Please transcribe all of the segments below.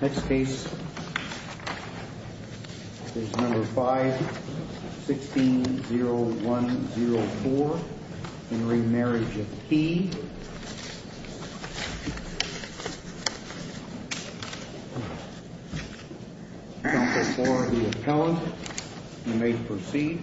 Next case is number 5, 16-0104, in re Marriage of Key. Counsel for the Appellant, you may proceed.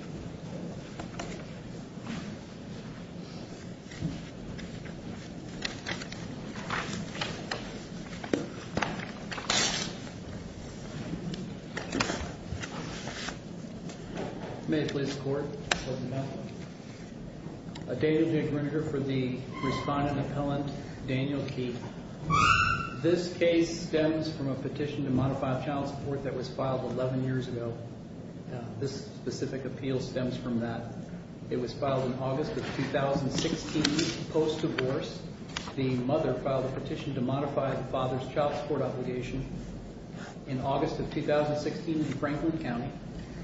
May it please the Court. A date of the aggregator for the Respondent Appellant, Daniel Key. This case stems from a petition to modify child support that was filed 11 years ago. This specific appeal stems from that. It was filed in August of 2016, post-divorce. The mother filed a petition to modify the father's child support obligation in August of 2016 in Franklin County,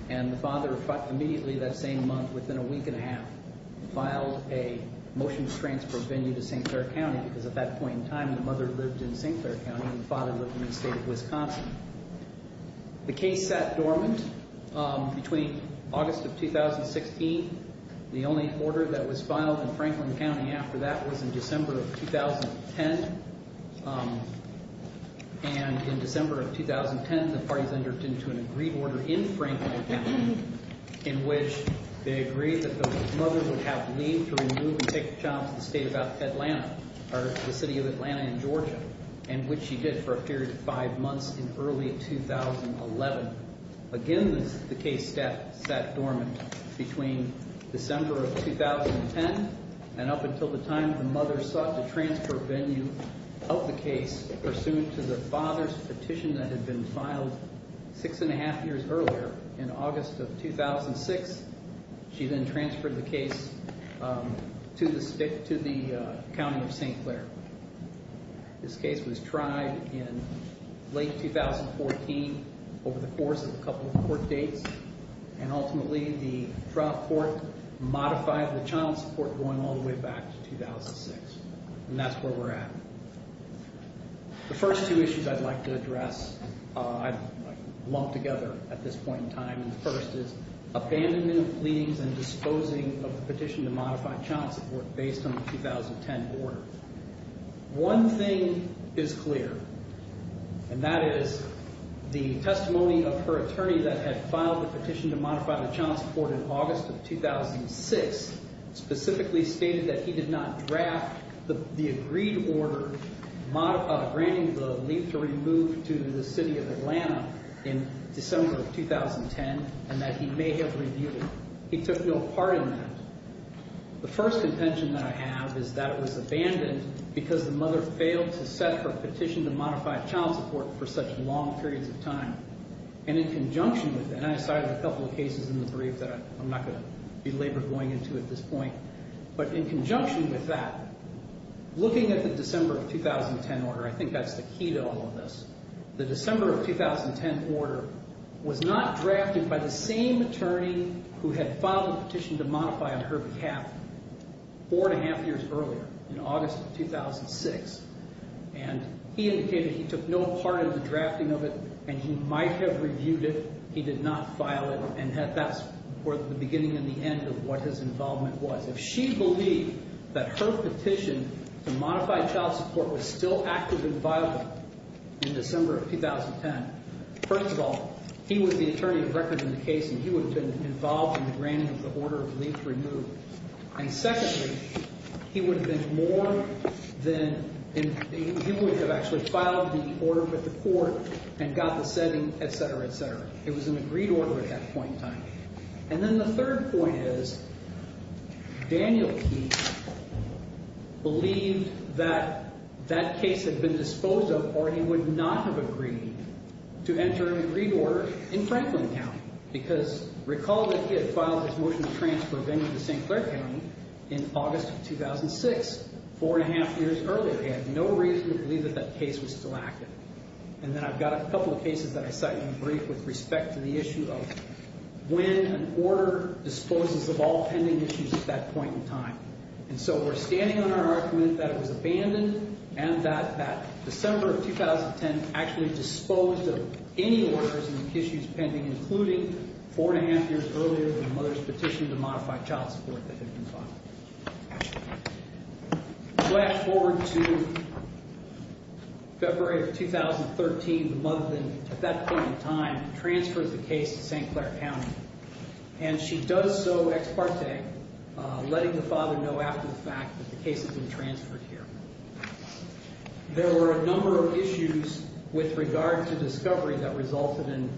and the father immediately that same month, within a week and a half, filed a motion to transfer venue to St. Clair County because at that point in time the mother lived in St. Clair County and the father lived in the state of Wisconsin. The case sat dormant between August of 2016. The only order that was filed in Franklin County after that was in December of 2010. And in December of 2010, the parties entered into an agreed order in Franklin County in which they agreed that the mother would have leave to remove and take the child to the state of Atlanta, or the city of Atlanta in Georgia, and which she did for a period of 5 months in early 2011. Again, the case sat dormant between December of 2010, and up until the time the mother sought to transfer venue of the case pursuant to the father's petition that had been filed 6 1⁄2 years earlier in August of 2006. She then transferred the case to the county of St. Clair. This case was tried in late 2014 over the course of a couple of court dates, and ultimately the trial court modified the child support going all the way back to 2006. And that's where we're at. The first two issues I'd like to address, lumped together at this point in time, and the first is abandonment of pleadings and disposing of the petition to modify child support based on the 2010 order. One thing is clear, and that is the testimony of her attorney that had filed the petition to modify the child support in August of 2006 specifically stated that he did not draft the agreed order granting the leave to remove to the city of Atlanta in December of 2010, and that he may have reviewed it. He took no part in that. The first contention that I have is that it was abandoned because the mother failed to set her petition to modify child support for such long periods of time. And in conjunction with that, and I cited a couple of cases in the brief that I'm not going to belabor going into at this point, but in conjunction with that, looking at the December of 2010 order, I think that's the key to all of this. The December of 2010 order was not drafted by the same attorney who had filed the petition to modify on her behalf four and a half years earlier, in August of 2006, and he indicated he took no part in the drafting of it, and he might have reviewed it. He did not file it, and that's where the beginning and the end of what his involvement was. If she believed that her petition to modify child support was still active and viable in December of 2010, first of all, he was the attorney of record in the case, and he would have been involved in the granting of the order of leave to remove. And secondly, he would have been more than he would have actually filed the order with the court and got the setting, et cetera, et cetera. It was an agreed order at that point in time. And then the third point is Daniel Keith believed that that case had been disposed of or he would not have agreed to enter an agreed order in Franklin County because recall that he had filed his motion to transfer a venue to St. Clair County in August of 2006, four and a half years earlier. He had no reason to believe that that case was still active. And then I've got a couple of cases that I cite in the brief with respect to the issue of when an order disposes of all pending issues at that point in time. And so we're standing on our argument that it was abandoned and that December of 2010 actually disposed of any orders and issues pending, including four and a half years earlier than the mother's petition to modify child support that had been filed. We go back forward to February of 2013. The mother then, at that point in time, transfers the case to St. Clair County. And she does so ex parte, letting the father know after the fact that the case has been transferred here. There were a number of issues with regard to discovery that resulted in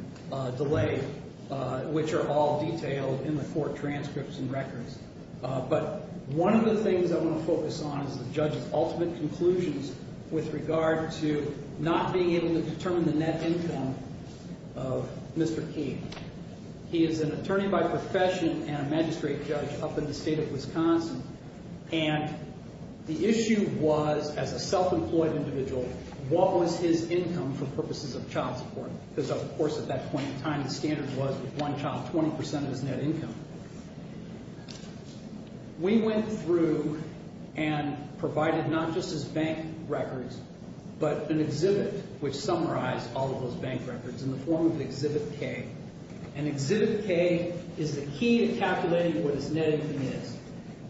delay, which are all detailed in the court transcripts and records. But one of the things I want to focus on is the judge's ultimate conclusions with regard to not being able to determine the net income of Mr. King. He is an attorney by profession and a magistrate judge up in the state of Wisconsin. And the issue was, as a self-employed individual, what was his income for purposes of child support? Because, of course, at that point in time, the standard was with one child, 20% of his net income. We went through and provided not just his bank records, but an exhibit, which summarized all of those bank records in the form of Exhibit K. And Exhibit K is the key to calculating what his net income is.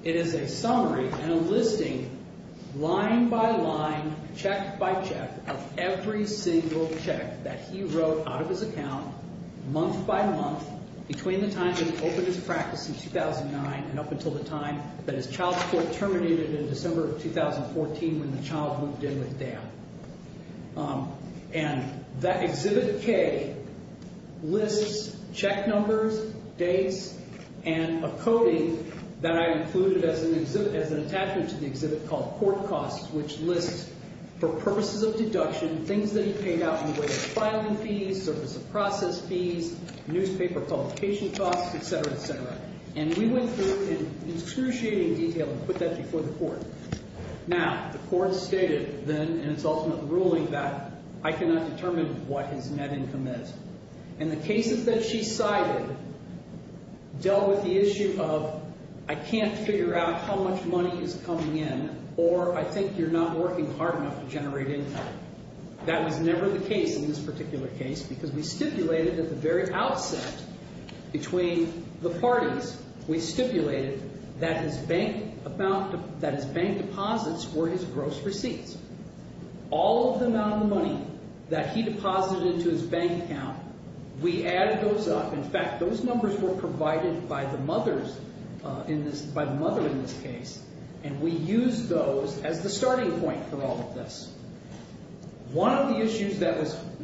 It is a summary and a listing, line by line, check by check, of every single check that he wrote out of his account, month by month, between the time that he opened his practice in 2009 and up until the time that his child support terminated in December of 2014 when the child moved in with Dad. And Exhibit K lists check numbers, dates, and a coding that I included as an attachment to the exhibit called court costs, which lists, for purposes of deduction, things that he paid out in the way of filing fees, surface of process fees, newspaper publication costs, etc., etc. And we went through and excruciated detail and put that before the court. Now, the court stated then in its ultimate ruling that I cannot determine what his net income is. And the cases that she cited dealt with the issue of I can't figure out how much money is coming in or I think you're not working hard enough to generate income. That was never the case in this particular case because we stipulated at the very outset, between the parties, we stipulated that his bank deposits were his gross receipts. All of the amount of money that he deposited into his bank account, we added those up. In fact, those numbers were provided by the mother in this case, and we used those as the starting point for all of this. One of the issues that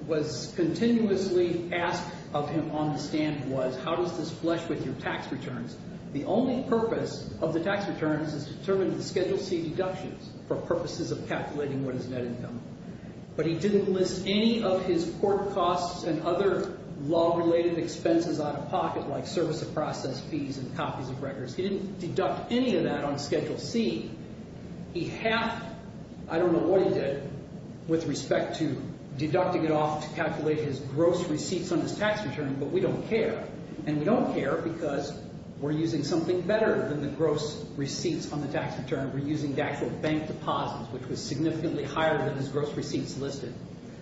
was continuously asked of him on the stand was, how does this flesh with your tax returns? The only purpose of the tax returns is to determine the Schedule C deductions for purposes of calculating what is net income. But he didn't list any of his court costs and other law-related expenses out of pocket like surface of process fees and copies of records. He didn't deduct any of that on Schedule C. He halved, I don't know what he did, with respect to deducting it off to calculate his gross receipts on his tax return, but we don't care. And we don't care because we're using something better than the gross receipts on the tax return. We're using actual bank deposits, which was significantly higher than his gross receipts listed.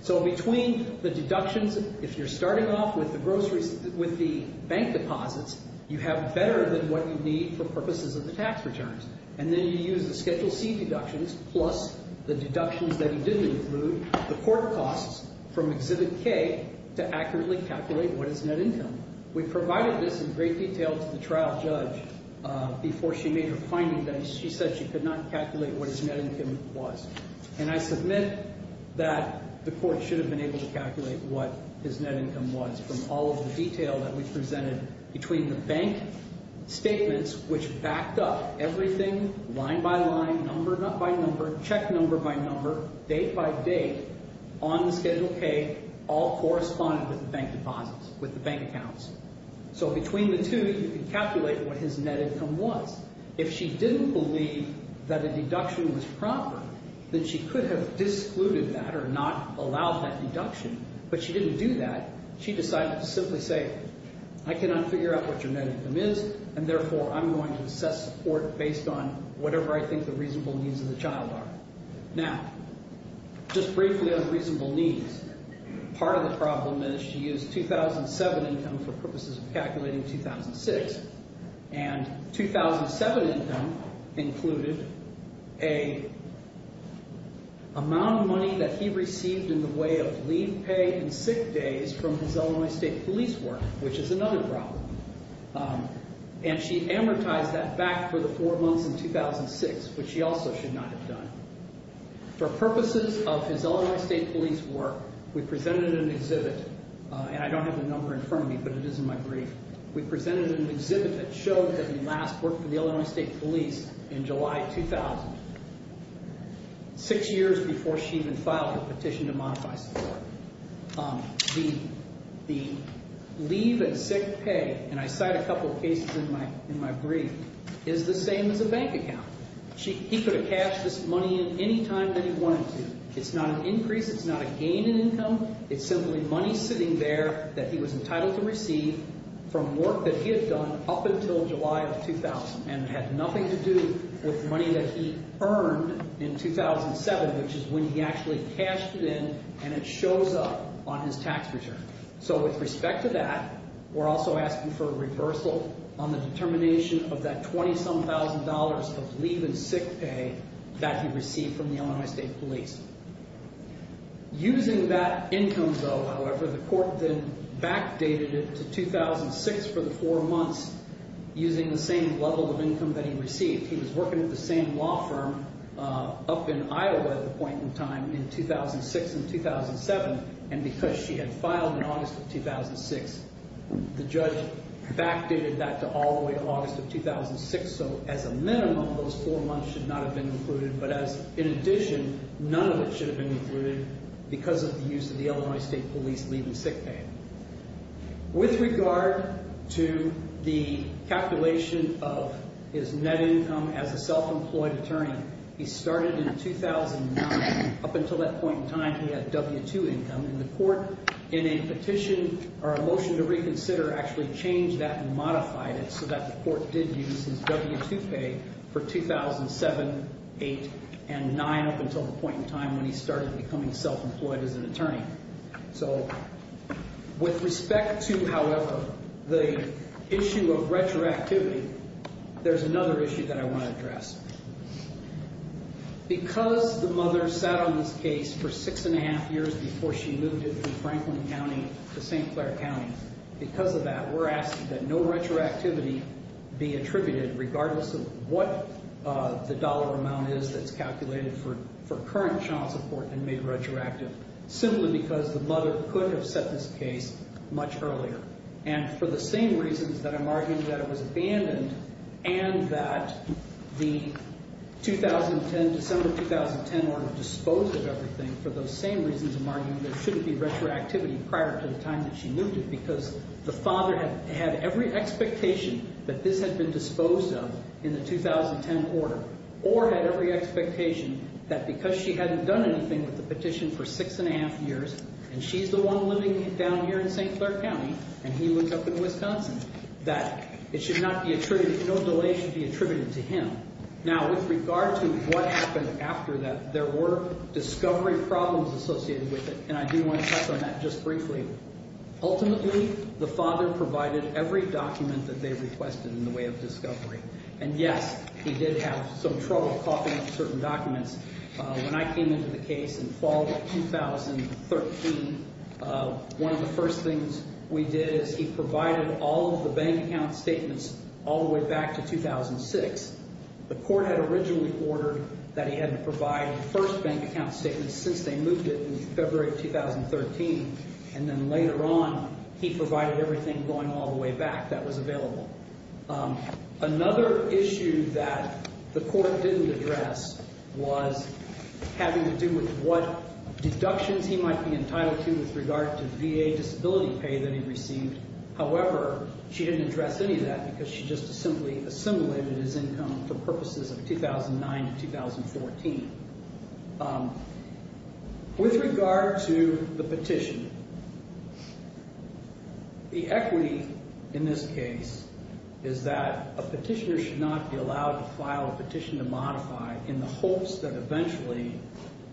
So between the deductions, if you're starting off with the bank deposits, you have better than what you need for purposes of the tax returns. And then you use the Schedule C deductions plus the deductions that he didn't include, the court costs from Exhibit K, to accurately calculate what is net income. We provided this in great detail to the trial judge before she made her findings, and she said she could not calculate what his net income was. And I submit that the court should have been able to calculate what his net income was from all of the detail that we presented between the bank statements, which backed up everything, line by line, number by number, check number by number, date by date, on the Schedule K, all corresponded with the bank deposits, with the bank accounts. So between the two, you can calculate what his net income was. If she didn't believe that a deduction was proper, then she could have discluded that or not allowed that deduction, but she didn't do that. She decided to simply say, I cannot figure out what your net income is, and therefore I'm going to assess support based on whatever I think the reasonable needs of the child are. Now, just briefly on reasonable needs, part of the problem is she used 2007 income for purposes of calculating 2006, and 2007 income included an amount of money that he received in the way of leave, pay, and sick days from his Illinois State Police work, which is another problem, and she amortized that back for the four months in 2006, which she also should not have done. For purposes of his Illinois State Police work, we presented an exhibit, and I don't have the number in front of me, but it is in my brief. We presented an exhibit that showed that he last worked for the Illinois State Police in July 2000, six years before she even filed her petition to modify support. The leave and sick pay, and I cite a couple of cases in my brief, is the same as a bank account. He could have cashed this money in any time that he wanted to. It's not an increase, it's not a gain in income, it's simply money sitting there that he was entitled to receive from work that he had done up until July of 2000, and it had nothing to do with money that he earned in 2007, which is when he actually cashed it in, and it shows up on his tax return. So with respect to that, we're also asking for a reversal on the determination of that 20-some thousand dollars of leave and sick pay that he received from the Illinois State Police. Using that income, though, however, the court then backdated it to 2006 for the four months, using the same level of income that he received. He was working at the same law firm up in Iowa at the point in time in 2006 and 2007, and because she had filed in August of 2006, the judge backdated that to all the way to August of 2006. So as a minimum, those four months should not have been included, but as an addition, none of it should have been included because of the use of the Illinois State Police leave and sick pay. With regard to the calculation of his net income as a self-employed attorney, he started in 2009. Up until that point in time, he had W-2 income, and the court, in a petition or a motion to reconsider, actually changed that and modified it so that the court did use his W-2 pay for 2007, 2008, and 2009 up until the point in time when he started becoming self-employed as an attorney. So with respect to, however, the issue of retroactivity, there's another issue that I want to address. Because the mother sat on this case for six and a half years before she moved it from Franklin County to St. Clair County, because of that, we're asking that no retroactivity be attributed, regardless of what the dollar amount is that's calculated for current child support and made retroactive, simply because the mother could have set this case much earlier. And for the same reasons that I'm arguing that it was abandoned and that the 2010, December 2010 order disposed of everything, for those same reasons I'm arguing there shouldn't be retroactivity prior to the time that she moved it, because the father had every expectation that this had been disposed of in the 2010 order or had every expectation that because she hadn't done anything with the petition for six and a half years and she's the one living down here in St. Clair County and he lives up in Wisconsin, that it should not be attributed, no delay should be attributed to him. Now, with regard to what happened after that, there were discovery problems associated with it, and I do want to touch on that just briefly. Ultimately, the father provided every document that they requested in the way of discovery. And yes, he did have some trouble copying certain documents. When I came into the case in fall of 2013, one of the first things we did is he provided all of the bank account statements all the way back to 2006. The court had originally ordered that he had to provide the first bank account statement since they moved it in February of 2013, and then later on he provided everything going all the way back that was available. Another issue that the court didn't address was having to do with what deductions he might be entitled to with regard to VA disability pay that he received. However, she didn't address any of that because she just simply assimilated his income for purposes of 2009 to 2014. With regard to the petition, the equity in this case is that a petitioner should not be allowed to file a petition to modify in the hopes that eventually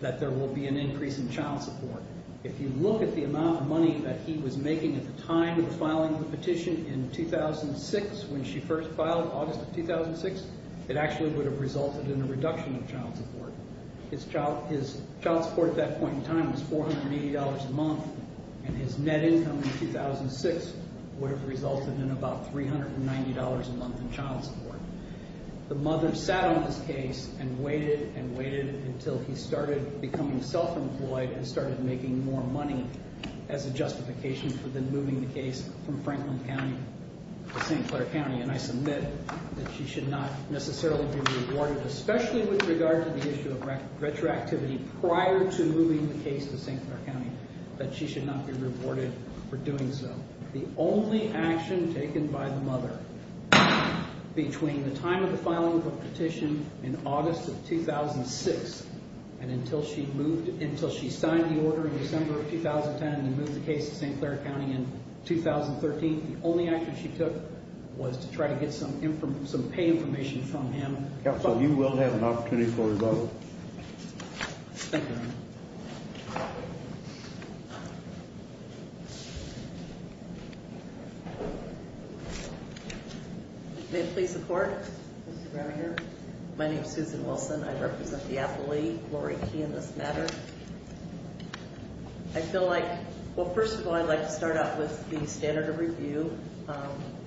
that there will be an increase in child support. If you look at the amount of money that he was making at the time of filing the petition in 2006 when she first filed in August of 2006, it actually would have resulted in a reduction in child support. His child support at that point in time was $480 a month, and his net income in 2006 would have resulted in about $390 a month in child support. The mother sat on this case and waited and waited until he started becoming self-employed and started making more money as a justification for then moving the case from Franklin County to St. Clair County. And I submit that she should not necessarily be rewarded, especially with regard to the issue of retroactivity prior to moving the case to St. Clair County, that she should not be rewarded for doing so. The only action taken by the mother between the time of the filing of the petition in August of 2006 and until she signed the order in December of 2010 and moved the case to St. Clair County in 2013, the only action she took was to try to get some pay information from him. Counsel, you will have an opportunity for a vote. Thank you. May it please the Court? My name is Susan Wilson. I represent the appellee, Lori Key, in this matter. I feel like, well, first of all, I'd like to start out with the standard of review.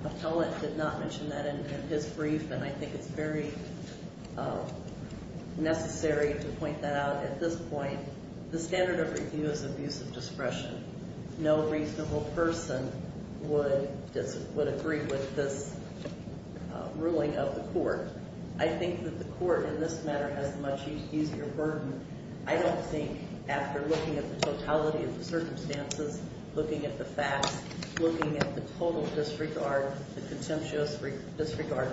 Appellant did not mention that in his brief, and I think it's very necessary to point that out at this point. The standard of review is abuse of discretion. No reasonable person would agree with this ruling of the Court. I think that the Court, in this matter, has a much easier burden, I don't think, after looking at the totality of the circumstances, looking at the facts, looking at the total disregard, the contemptuous disregard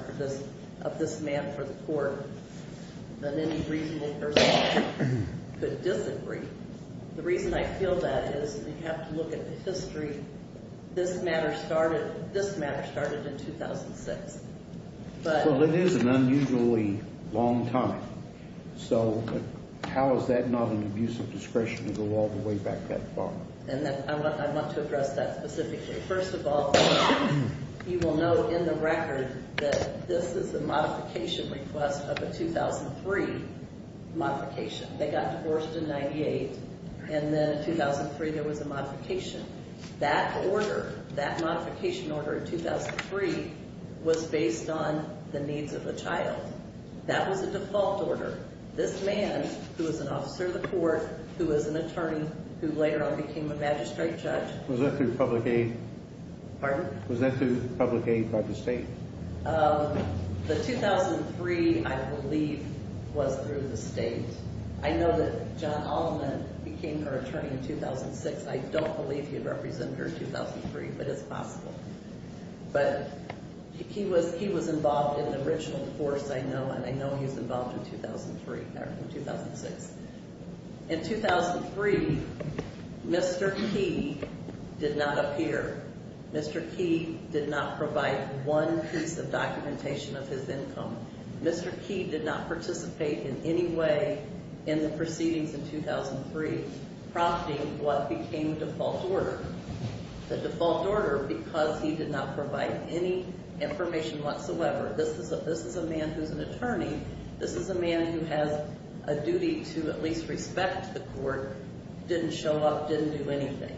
of this man for the Court, than any reasonable person could disagree. The reason I feel that is you have to look at the history. This matter started in 2006. Well, it is an unusually long time. So how is that not an abuse of discretion to go all the way back that far? I want to address that specifically. First of all, you will know in the record that this is a modification request of a 2003 modification. They got divorced in 98, and then in 2003 there was a modification. That order, that modification order in 2003, was based on the needs of the child. That was a default order. This man, who was an officer of the Court, who was an attorney, who later on became a magistrate judge. Was that through public aid? Pardon? Was that through public aid by the State? The 2003, I believe, was through the State. I know that John Altman became her attorney in 2006. I don't believe he represented her in 2003, but it's possible. But he was involved in the original force, I know, and I know he was involved in 2003, or in 2006. In 2003, Mr. Key did not appear. Mr. Key did not provide one piece of documentation of his income. Mr. Key did not participate in any way in the proceedings in 2003, prompting what became the default order. The default order, because he did not provide any information whatsoever. This is a man who's an attorney. This is a man who has a duty to at least respect the Court, didn't show up, didn't do anything.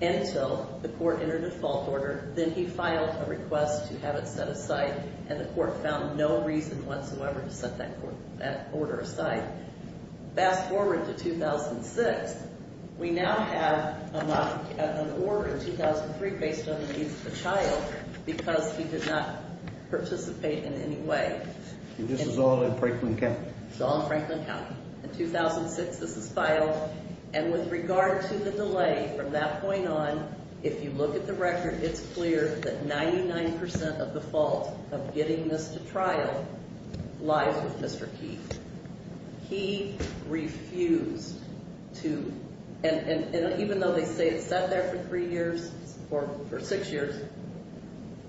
Until the Court entered a default order, then he filed a request to have it set aside, and the Court found no reason whatsoever to set that order aside. Fast forward to 2006. We now have an order in 2003 based on the needs of a child because he did not participate in any way. And this is all in Franklin County? It's all in Franklin County. In 2006, this is filed. And with regard to the delay from that point on, if you look at the record, it's clear that 99% of the fault of getting this to trial lies with Mr. Key. He refused to, and even though they say it sat there for three years, or for six years,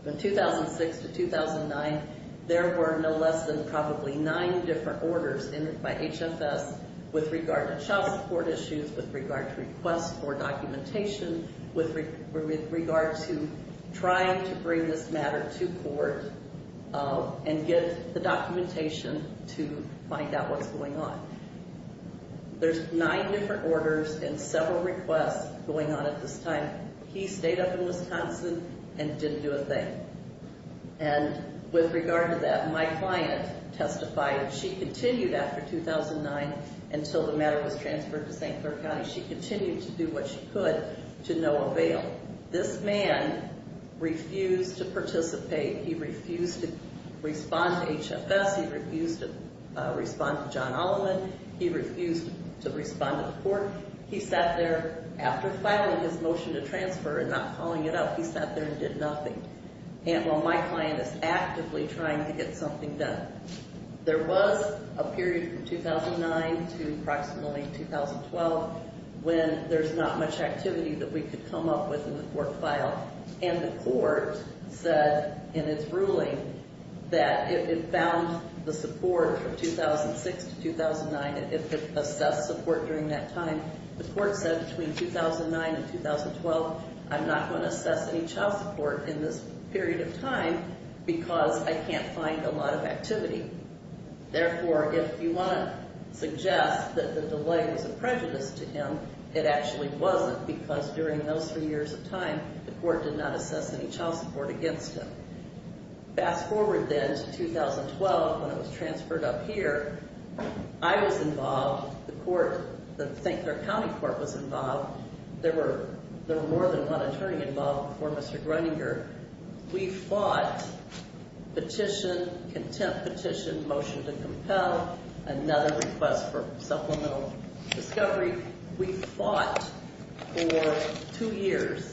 from 2006 to 2009, there were no less than probably nine different orders entered by HFS with regard to child support issues, with regard to requests for documentation, with regard to trying to bring this matter to Court and get the documentation to find out what's going on. There's nine different orders and several requests going on at this time. He stayed up in Wisconsin and didn't do a thing. And with regard to that, my client testified. She continued after 2009 until the matter was transferred to St. Clair County. She continued to do what she could to no avail. This man refused to participate. He refused to respond to HFS. He refused to respond to John Alleman. He refused to respond to the Court. He sat there after filing his motion to transfer and not calling it up. He sat there and did nothing. And while my client is actively trying to get something done, there was a period from 2009 to approximately 2012 when there's not much activity that we could come up with in the court file, and the Court said in its ruling that if it found the support from 2006 to 2009, if it assessed support during that time, the Court said between 2009 and 2012, I'm not going to assess any child support in this period of time because I can't find a lot of activity. Therefore, if you want to suggest that the delay was a prejudice to him, it actually wasn't because during those three years of time, the Court did not assess any child support against him. Fast forward then to 2012 when it was transferred up here. I was involved. The County Court was involved. There were more than one attorney involved before Mr. Gruninger. We fought petition, contempt petition, motion to compel, another request for supplemental discovery. We fought for two years.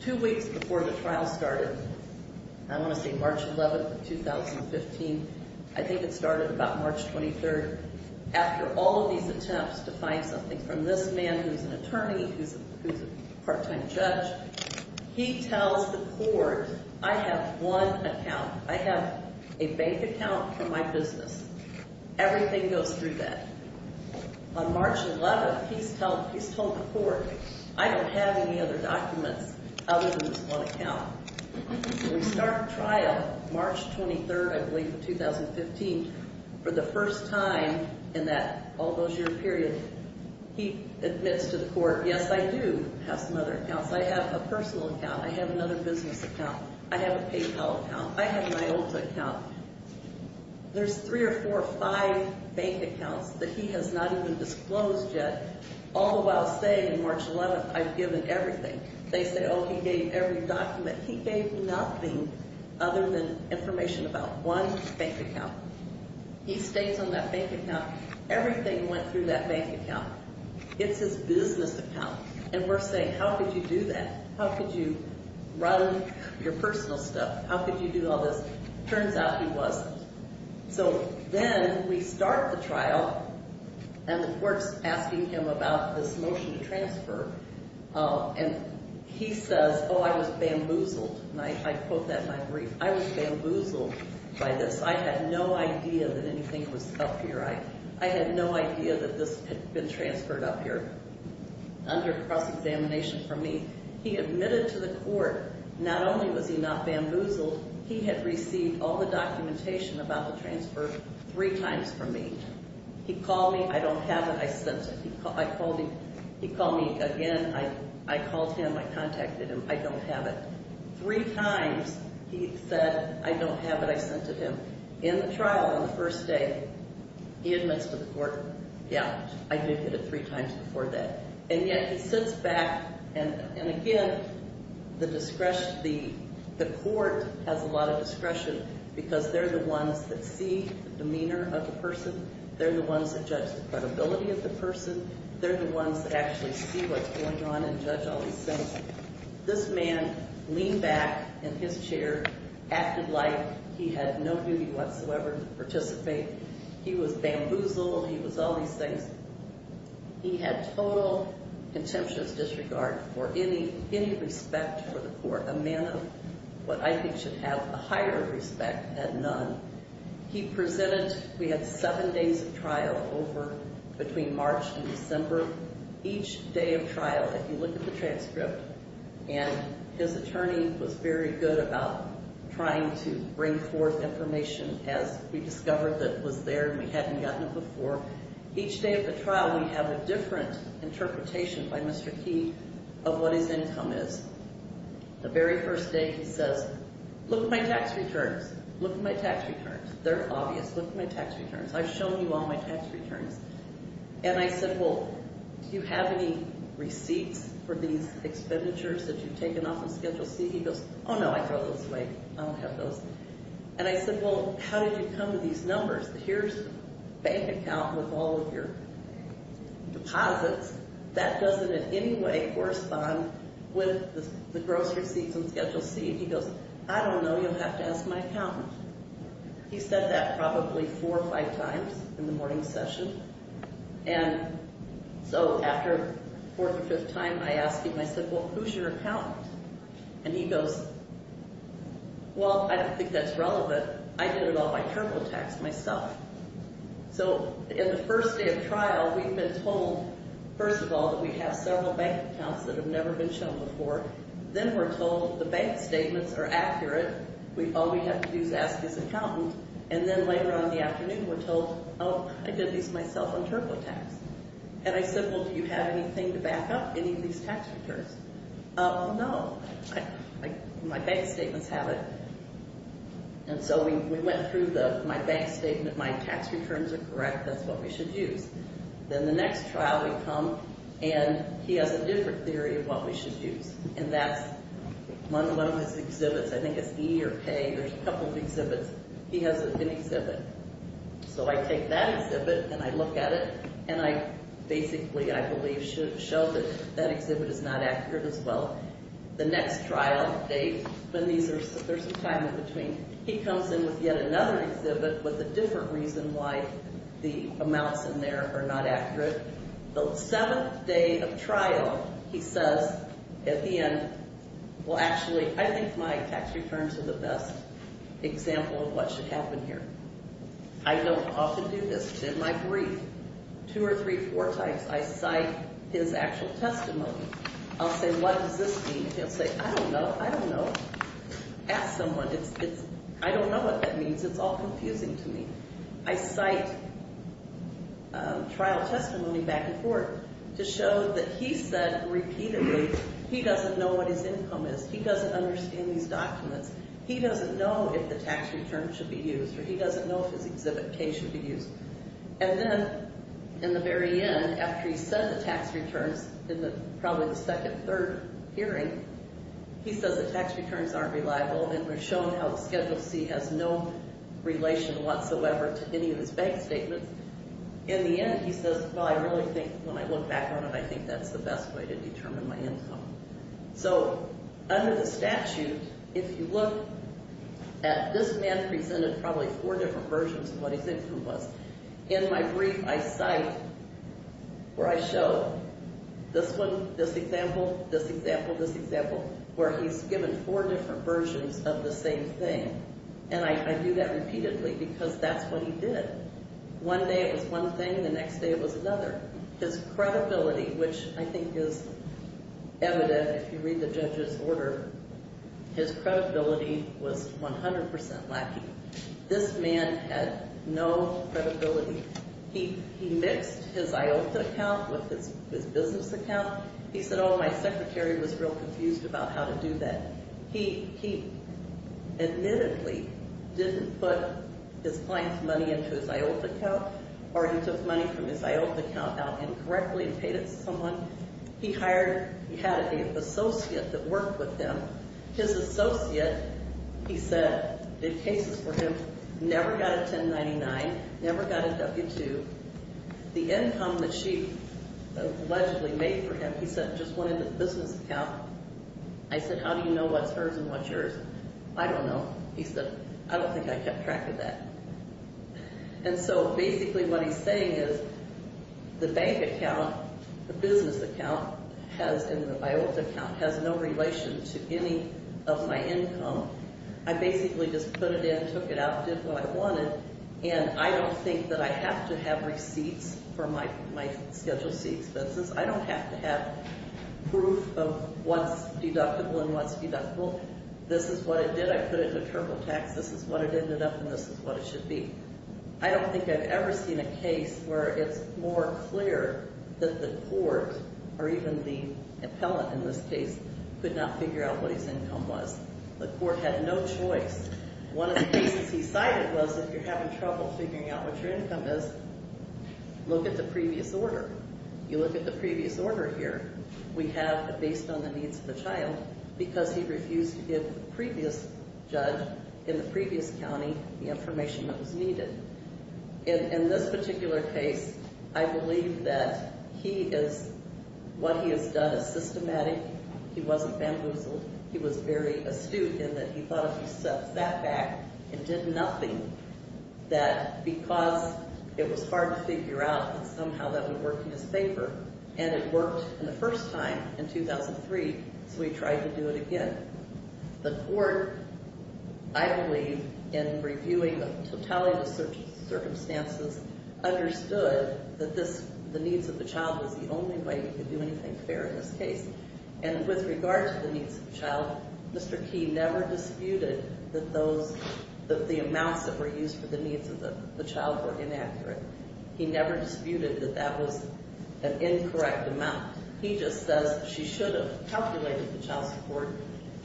Two weeks before the trial started, I want to say March 11, 2015, I think it started about March 23, after all of these attempts to find something from this man who's an attorney, who's a part-time judge, he tells the Court, I have one account. I have a bank account for my business. Everything goes through that. On March 11, he's told the Court, I don't have any other documents other than this one account. We start trial March 23, I believe, in 2015. For the first time in that all those year period, he admits to the Court, yes, I do have some other accounts. I have a personal account. I have another business account. I have a PayPal account. I have an IOTA account. There's three or four or five bank accounts that he has not even disclosed yet, all the while saying on March 11, I've given everything. They say, oh, he gave every document. He gave nothing other than information about one bank account. He states on that bank account, everything went through that bank account. It's his business account. And we're saying, how could you do that? How could you run your personal stuff? How could you do all this? Turns out he wasn't. So then we start the trial, and the Court's asking him about this motion to transfer. And he says, oh, I was bamboozled. And I quote that in my brief. I was bamboozled by this. I had no idea that anything was up here. I had no idea that this had been transferred up here under cross-examination from me. He admitted to the Court, not only was he not bamboozled, he had received all the documentation about the transfer three times from me. He called me. I don't have it. I sent it. He called me again. I called him. I contacted him. I don't have it. Three times he said, I don't have it. I sent it to him. In the trial, on the first day, he admits to the Court, yeah, I did get it three times before that. And yet he sits back, and again, the Court has a lot of discretion because they're the ones that see the demeanor of the person. They're the ones that judge the credibility of the person. They're the ones that actually see what's going on and judge all these things. This man leaned back in his chair, acted like he had no duty whatsoever to participate. He was bamboozled. He was all these things. He had total contemptuous disregard for any respect for the Court. A man of what I think should have a higher respect had none. He presented. We had seven days of trial over between March and December. Each day of trial, if you look at the transcript, and his attorney was very good about trying to bring forth information as we discovered that was there and we hadn't gotten it before. Each day of the trial, we have a different interpretation by Mr. Key of what his income is. The very first day, he says, look at my tax returns. Look at my tax returns. They're obvious. Look at my tax returns. I've shown you all my tax returns. And I said, well, do you have any receipts for these expenditures that you've taken off on Schedule C? He goes, oh, no, I throw those away. I don't have those. And I said, well, how did you come to these numbers? Here's a bank account with all of your deposits. That doesn't in any way correspond with the grocery receipts on Schedule C. He goes, I don't know. You'll have to ask my accountant. He said that probably four or five times in the morning session. And so after the fourth or fifth time I asked him, I said, well, who's your accountant? And he goes, well, I don't think that's relevant. But I did it all by TurboTax myself. So in the first day of trial, we've been told, first of all, that we have several bank accounts that have never been shown before. Then we're told the bank statements are accurate. All we have to do is ask his accountant. And then later on in the afternoon, we're told, oh, I did these myself on TurboTax. And I said, well, do you have anything to back up any of these tax returns? No. My bank statements have it. And so we went through my bank statement. My tax returns are correct. That's what we should use. Then the next trial we come, and he has a different theory of what we should use. And that's one of his exhibits. I think it's E or K. There's a couple of exhibits. He has an exhibit. So I take that exhibit, and I look at it, and I basically, I believe, show that that exhibit is not accurate as well. The next trial, there's a time in between. He comes in with yet another exhibit with a different reason why the amounts in there are not accurate. The seventh day of trial, he says at the end, well, actually, I think my tax returns are the best example of what should happen here. I don't often do this, but in my brief, two or three, four times, I cite his actual testimony. I'll say, what does this mean? He'll say, I don't know. I don't know. Ask someone. I don't know what that means. It's all confusing to me. I cite trial testimony back and forth to show that he said repeatedly he doesn't know what his income is. He doesn't understand these documents. He doesn't know if the tax returns should be used, or he doesn't know if his exhibit K should be used. And then, in the very end, after he said the tax returns in probably the second, third hearing, he says the tax returns aren't reliable and we've shown how Schedule C has no relation whatsoever to any of his bank statements. In the end, he says, well, I really think when I look back on it, I think that's the best way to determine my income. So, under the statute, if you look at this man presented probably four different versions of what his income was. In my brief, I cite or I show this one, this example, this example, this example, where he's given four different versions of the same thing. And I do that repeatedly because that's what he did. One day it was one thing. The next day it was another. His credibility, which I think is evident if you read the judge's order, his credibility was 100% lacking. This man had no credibility. He mixed his IOTA account with his business account. He said, oh, my secretary was real confused about how to do that. He admittedly didn't put his client's money into his IOTA account or he took money from his IOTA account out incorrectly and paid it to someone. He hired, he had an associate that worked with him. His associate, he said, did cases for him, never got a 1099, never got a W-2. The income that she allegedly made for him, he said, just went into his business account. I said, how do you know what's hers and what's yours? I don't know. He said, I don't think I kept track of that. And so basically what he's saying is the bank account, the business account has, and the IOTA account has no relation to any of my income. I basically just put it in, took it out, did what I wanted, and I don't think that I have to have receipts for my scheduled C expenses. I don't have to have proof of what's deductible and what's deductible. This is what it did. I put it into TurboTax. This is what it ended up, and this is what it should be. I don't think I've ever seen a case where it's more clear that the court or even the appellant in this case could not figure out what his income was. The court had no choice. One of the cases he cited was if you're having trouble figuring out what your income is, look at the previous order. You look at the previous order here. We have a based on the needs of the child because he refused to give the previous judge in the previous county the information that was needed. In this particular case, I believe that he is, what he has done is systematic. He wasn't bamboozled. He was very astute in that he thought if he sat back and did nothing, that because it was hard to figure out that somehow that would work in his paper, and it worked the first time in 2003, so he tried to do it again. The court, I believe, in reviewing the totality of the circumstances, understood that this, the needs of the child was the only way we could do anything fair in this case. And with regard to the needs of the child, Mr. Key never disputed that those, that the amounts that were used for the needs of the child were inaccurate. He never disputed that that was an incorrect amount. He just says she should have calculated the child support.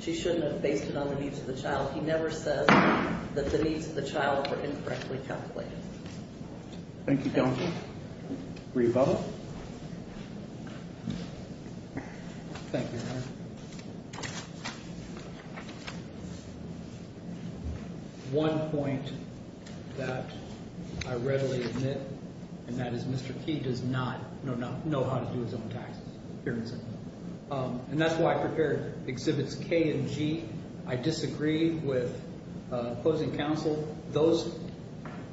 She shouldn't have based it on the needs of the child. He never says that the needs of the child were incorrectly calculated. Thank you, counsel. Rebuttal. Thank you, Your Honor. One point that I readily admit, and that is Mr. Key does not know how to do his own taxes. And that's why I prepared exhibits K and G. I disagree with closing counsel. Those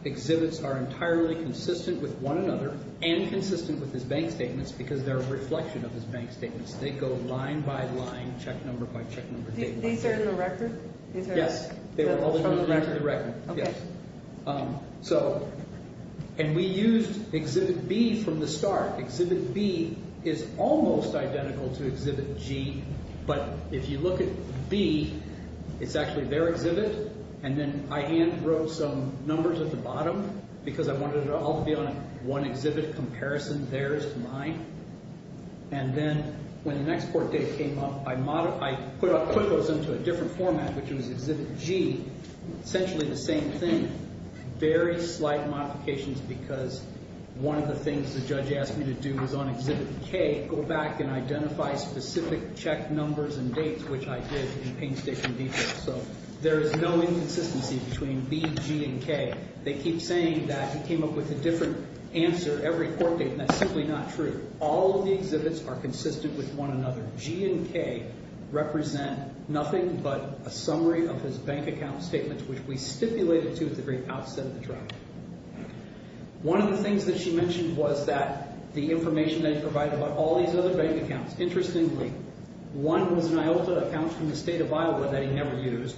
exhibits are entirely consistent with one another and consistent with his bank statements because they're a reflection of his bank statements. They go line by line, check number by check number. These are in the record? Yes, they were all in the record. Okay. Yes. So, and we used exhibit B from the start. Exhibit B is almost identical to exhibit G, but if you look at B, it's actually their exhibit. And then I hand wrote some numbers at the bottom because I wanted it all to be on one exhibit comparison. Theirs to mine. And then when the next court date came up, I put those into a different format, which was exhibit G. Essentially the same thing. Very slight modifications because one of the things the judge asked me to do was on exhibit K, go back and identify specific check numbers and dates, which I did in painstaking detail. So there is no inconsistency between B, G, and K. They keep saying that he came up with a different answer every court date, and that's simply not true. All of the exhibits are consistent with one another. G and K represent nothing but a summary of his bank account statements, which we stipulated to at the very outset of the trial. One of the things that she mentioned was that the information that he provided about all these other bank accounts. Interestingly, one was an Iota account from the state of Iowa that he never used.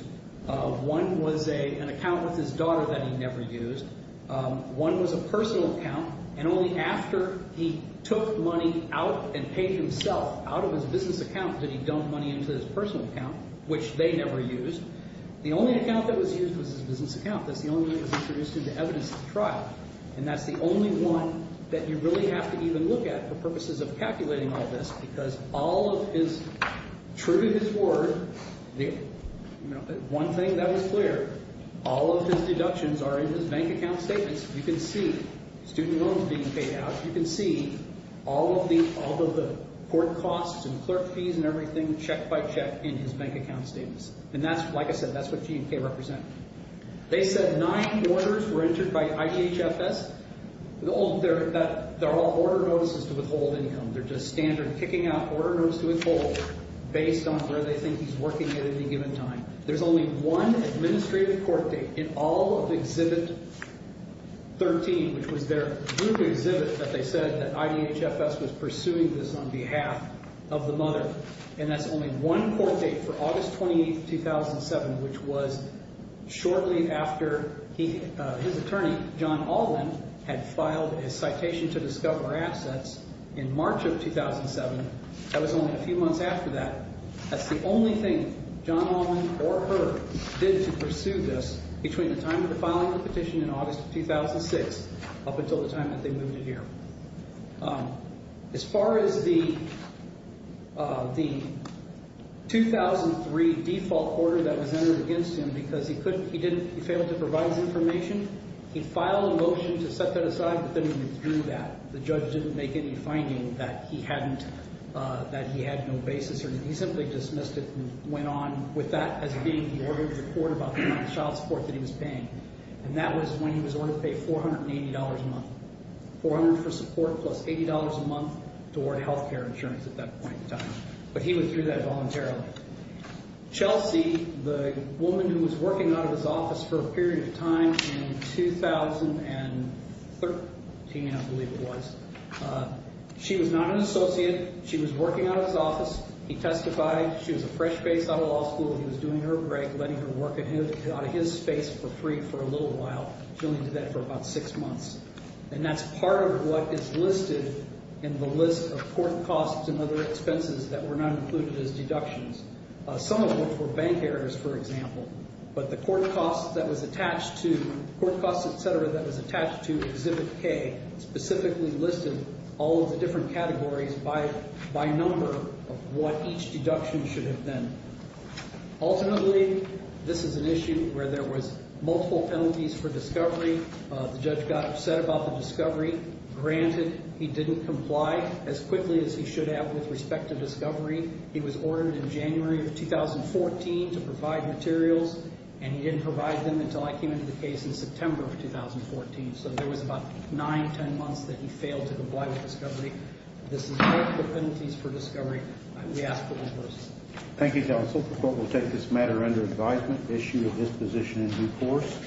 One was an account with his daughter that he never used. One was a personal account, and only after he took money out and paid himself out of his business account did he dump money into his personal account, which they never used. The only account that was used was his business account. That's the only one that was introduced into evidence at the trial. And that's the only one that you really have to even look at for purposes of calculating all this because all of his, true to his word, one thing that was clear, all of his deductions are in his bank account statements. You can see student loans being paid out. You can see all of the court costs and clerk fees and everything, check by check, in his bank account statements. And that's, like I said, that's what G and K represent. They said nine orders were entered by IGHFS. They're all order notices to withhold income. They're just standard kicking out order notice to withhold based on where they think he's working at any given time. There's only one administrative court date in all of Exhibit 13, which was their group exhibit that they said that IGHFS was pursuing this on behalf of the mother. And that's only one court date for August 28, 2007, which was shortly after his attorney, John Allen, had filed his citation to discover assets in March of 2007. That was only a few months after that. That's the only thing John Allen or her did to pursue this between the time of the filing of the petition in August of 2006 up until the time that they moved in here. As far as the 2003 default order that was entered against him because he failed to provide information, he filed a motion to set that aside, but then he withdrew that. The judge didn't make any finding that he had no basis or anything. He simply dismissed it and went on with that as being the order of the court about the amount of child support that he was paying. And that was when he was ordered to pay $480 a month, $400 for support plus $80 a month toward health care insurance at that point in time. But he withdrew that voluntarily. Chelsea, the woman who was working out of his office for a period of time in 2013, I believe it was, she was not an associate. She was working out of his office. He testified. She was a fresh face out of law school. He was doing her great, letting her work out of his space for free for a little while. She only did that for about six months. And that's part of what is listed in the list of court costs and other expenses that were not included as deductions. Some of them were bank errors, for example. But the court costs that was attached to exhibit K specifically listed all of the different categories by number of what each deduction should have been. Ultimately, this is an issue where there was multiple penalties for discovery. The judge got upset about the discovery. Granted, he didn't comply as quickly as he should have with respect to discovery. He was ordered in January of 2014 to provide materials. And he didn't provide them until I came into the case in September of 2014. So there was about nine, 10 months that he failed to comply with discovery. This is multiple penalties for discovery. We ask for one person. Thank you, counsel. The court will take this matter under advisement. Issue of disposition in due course.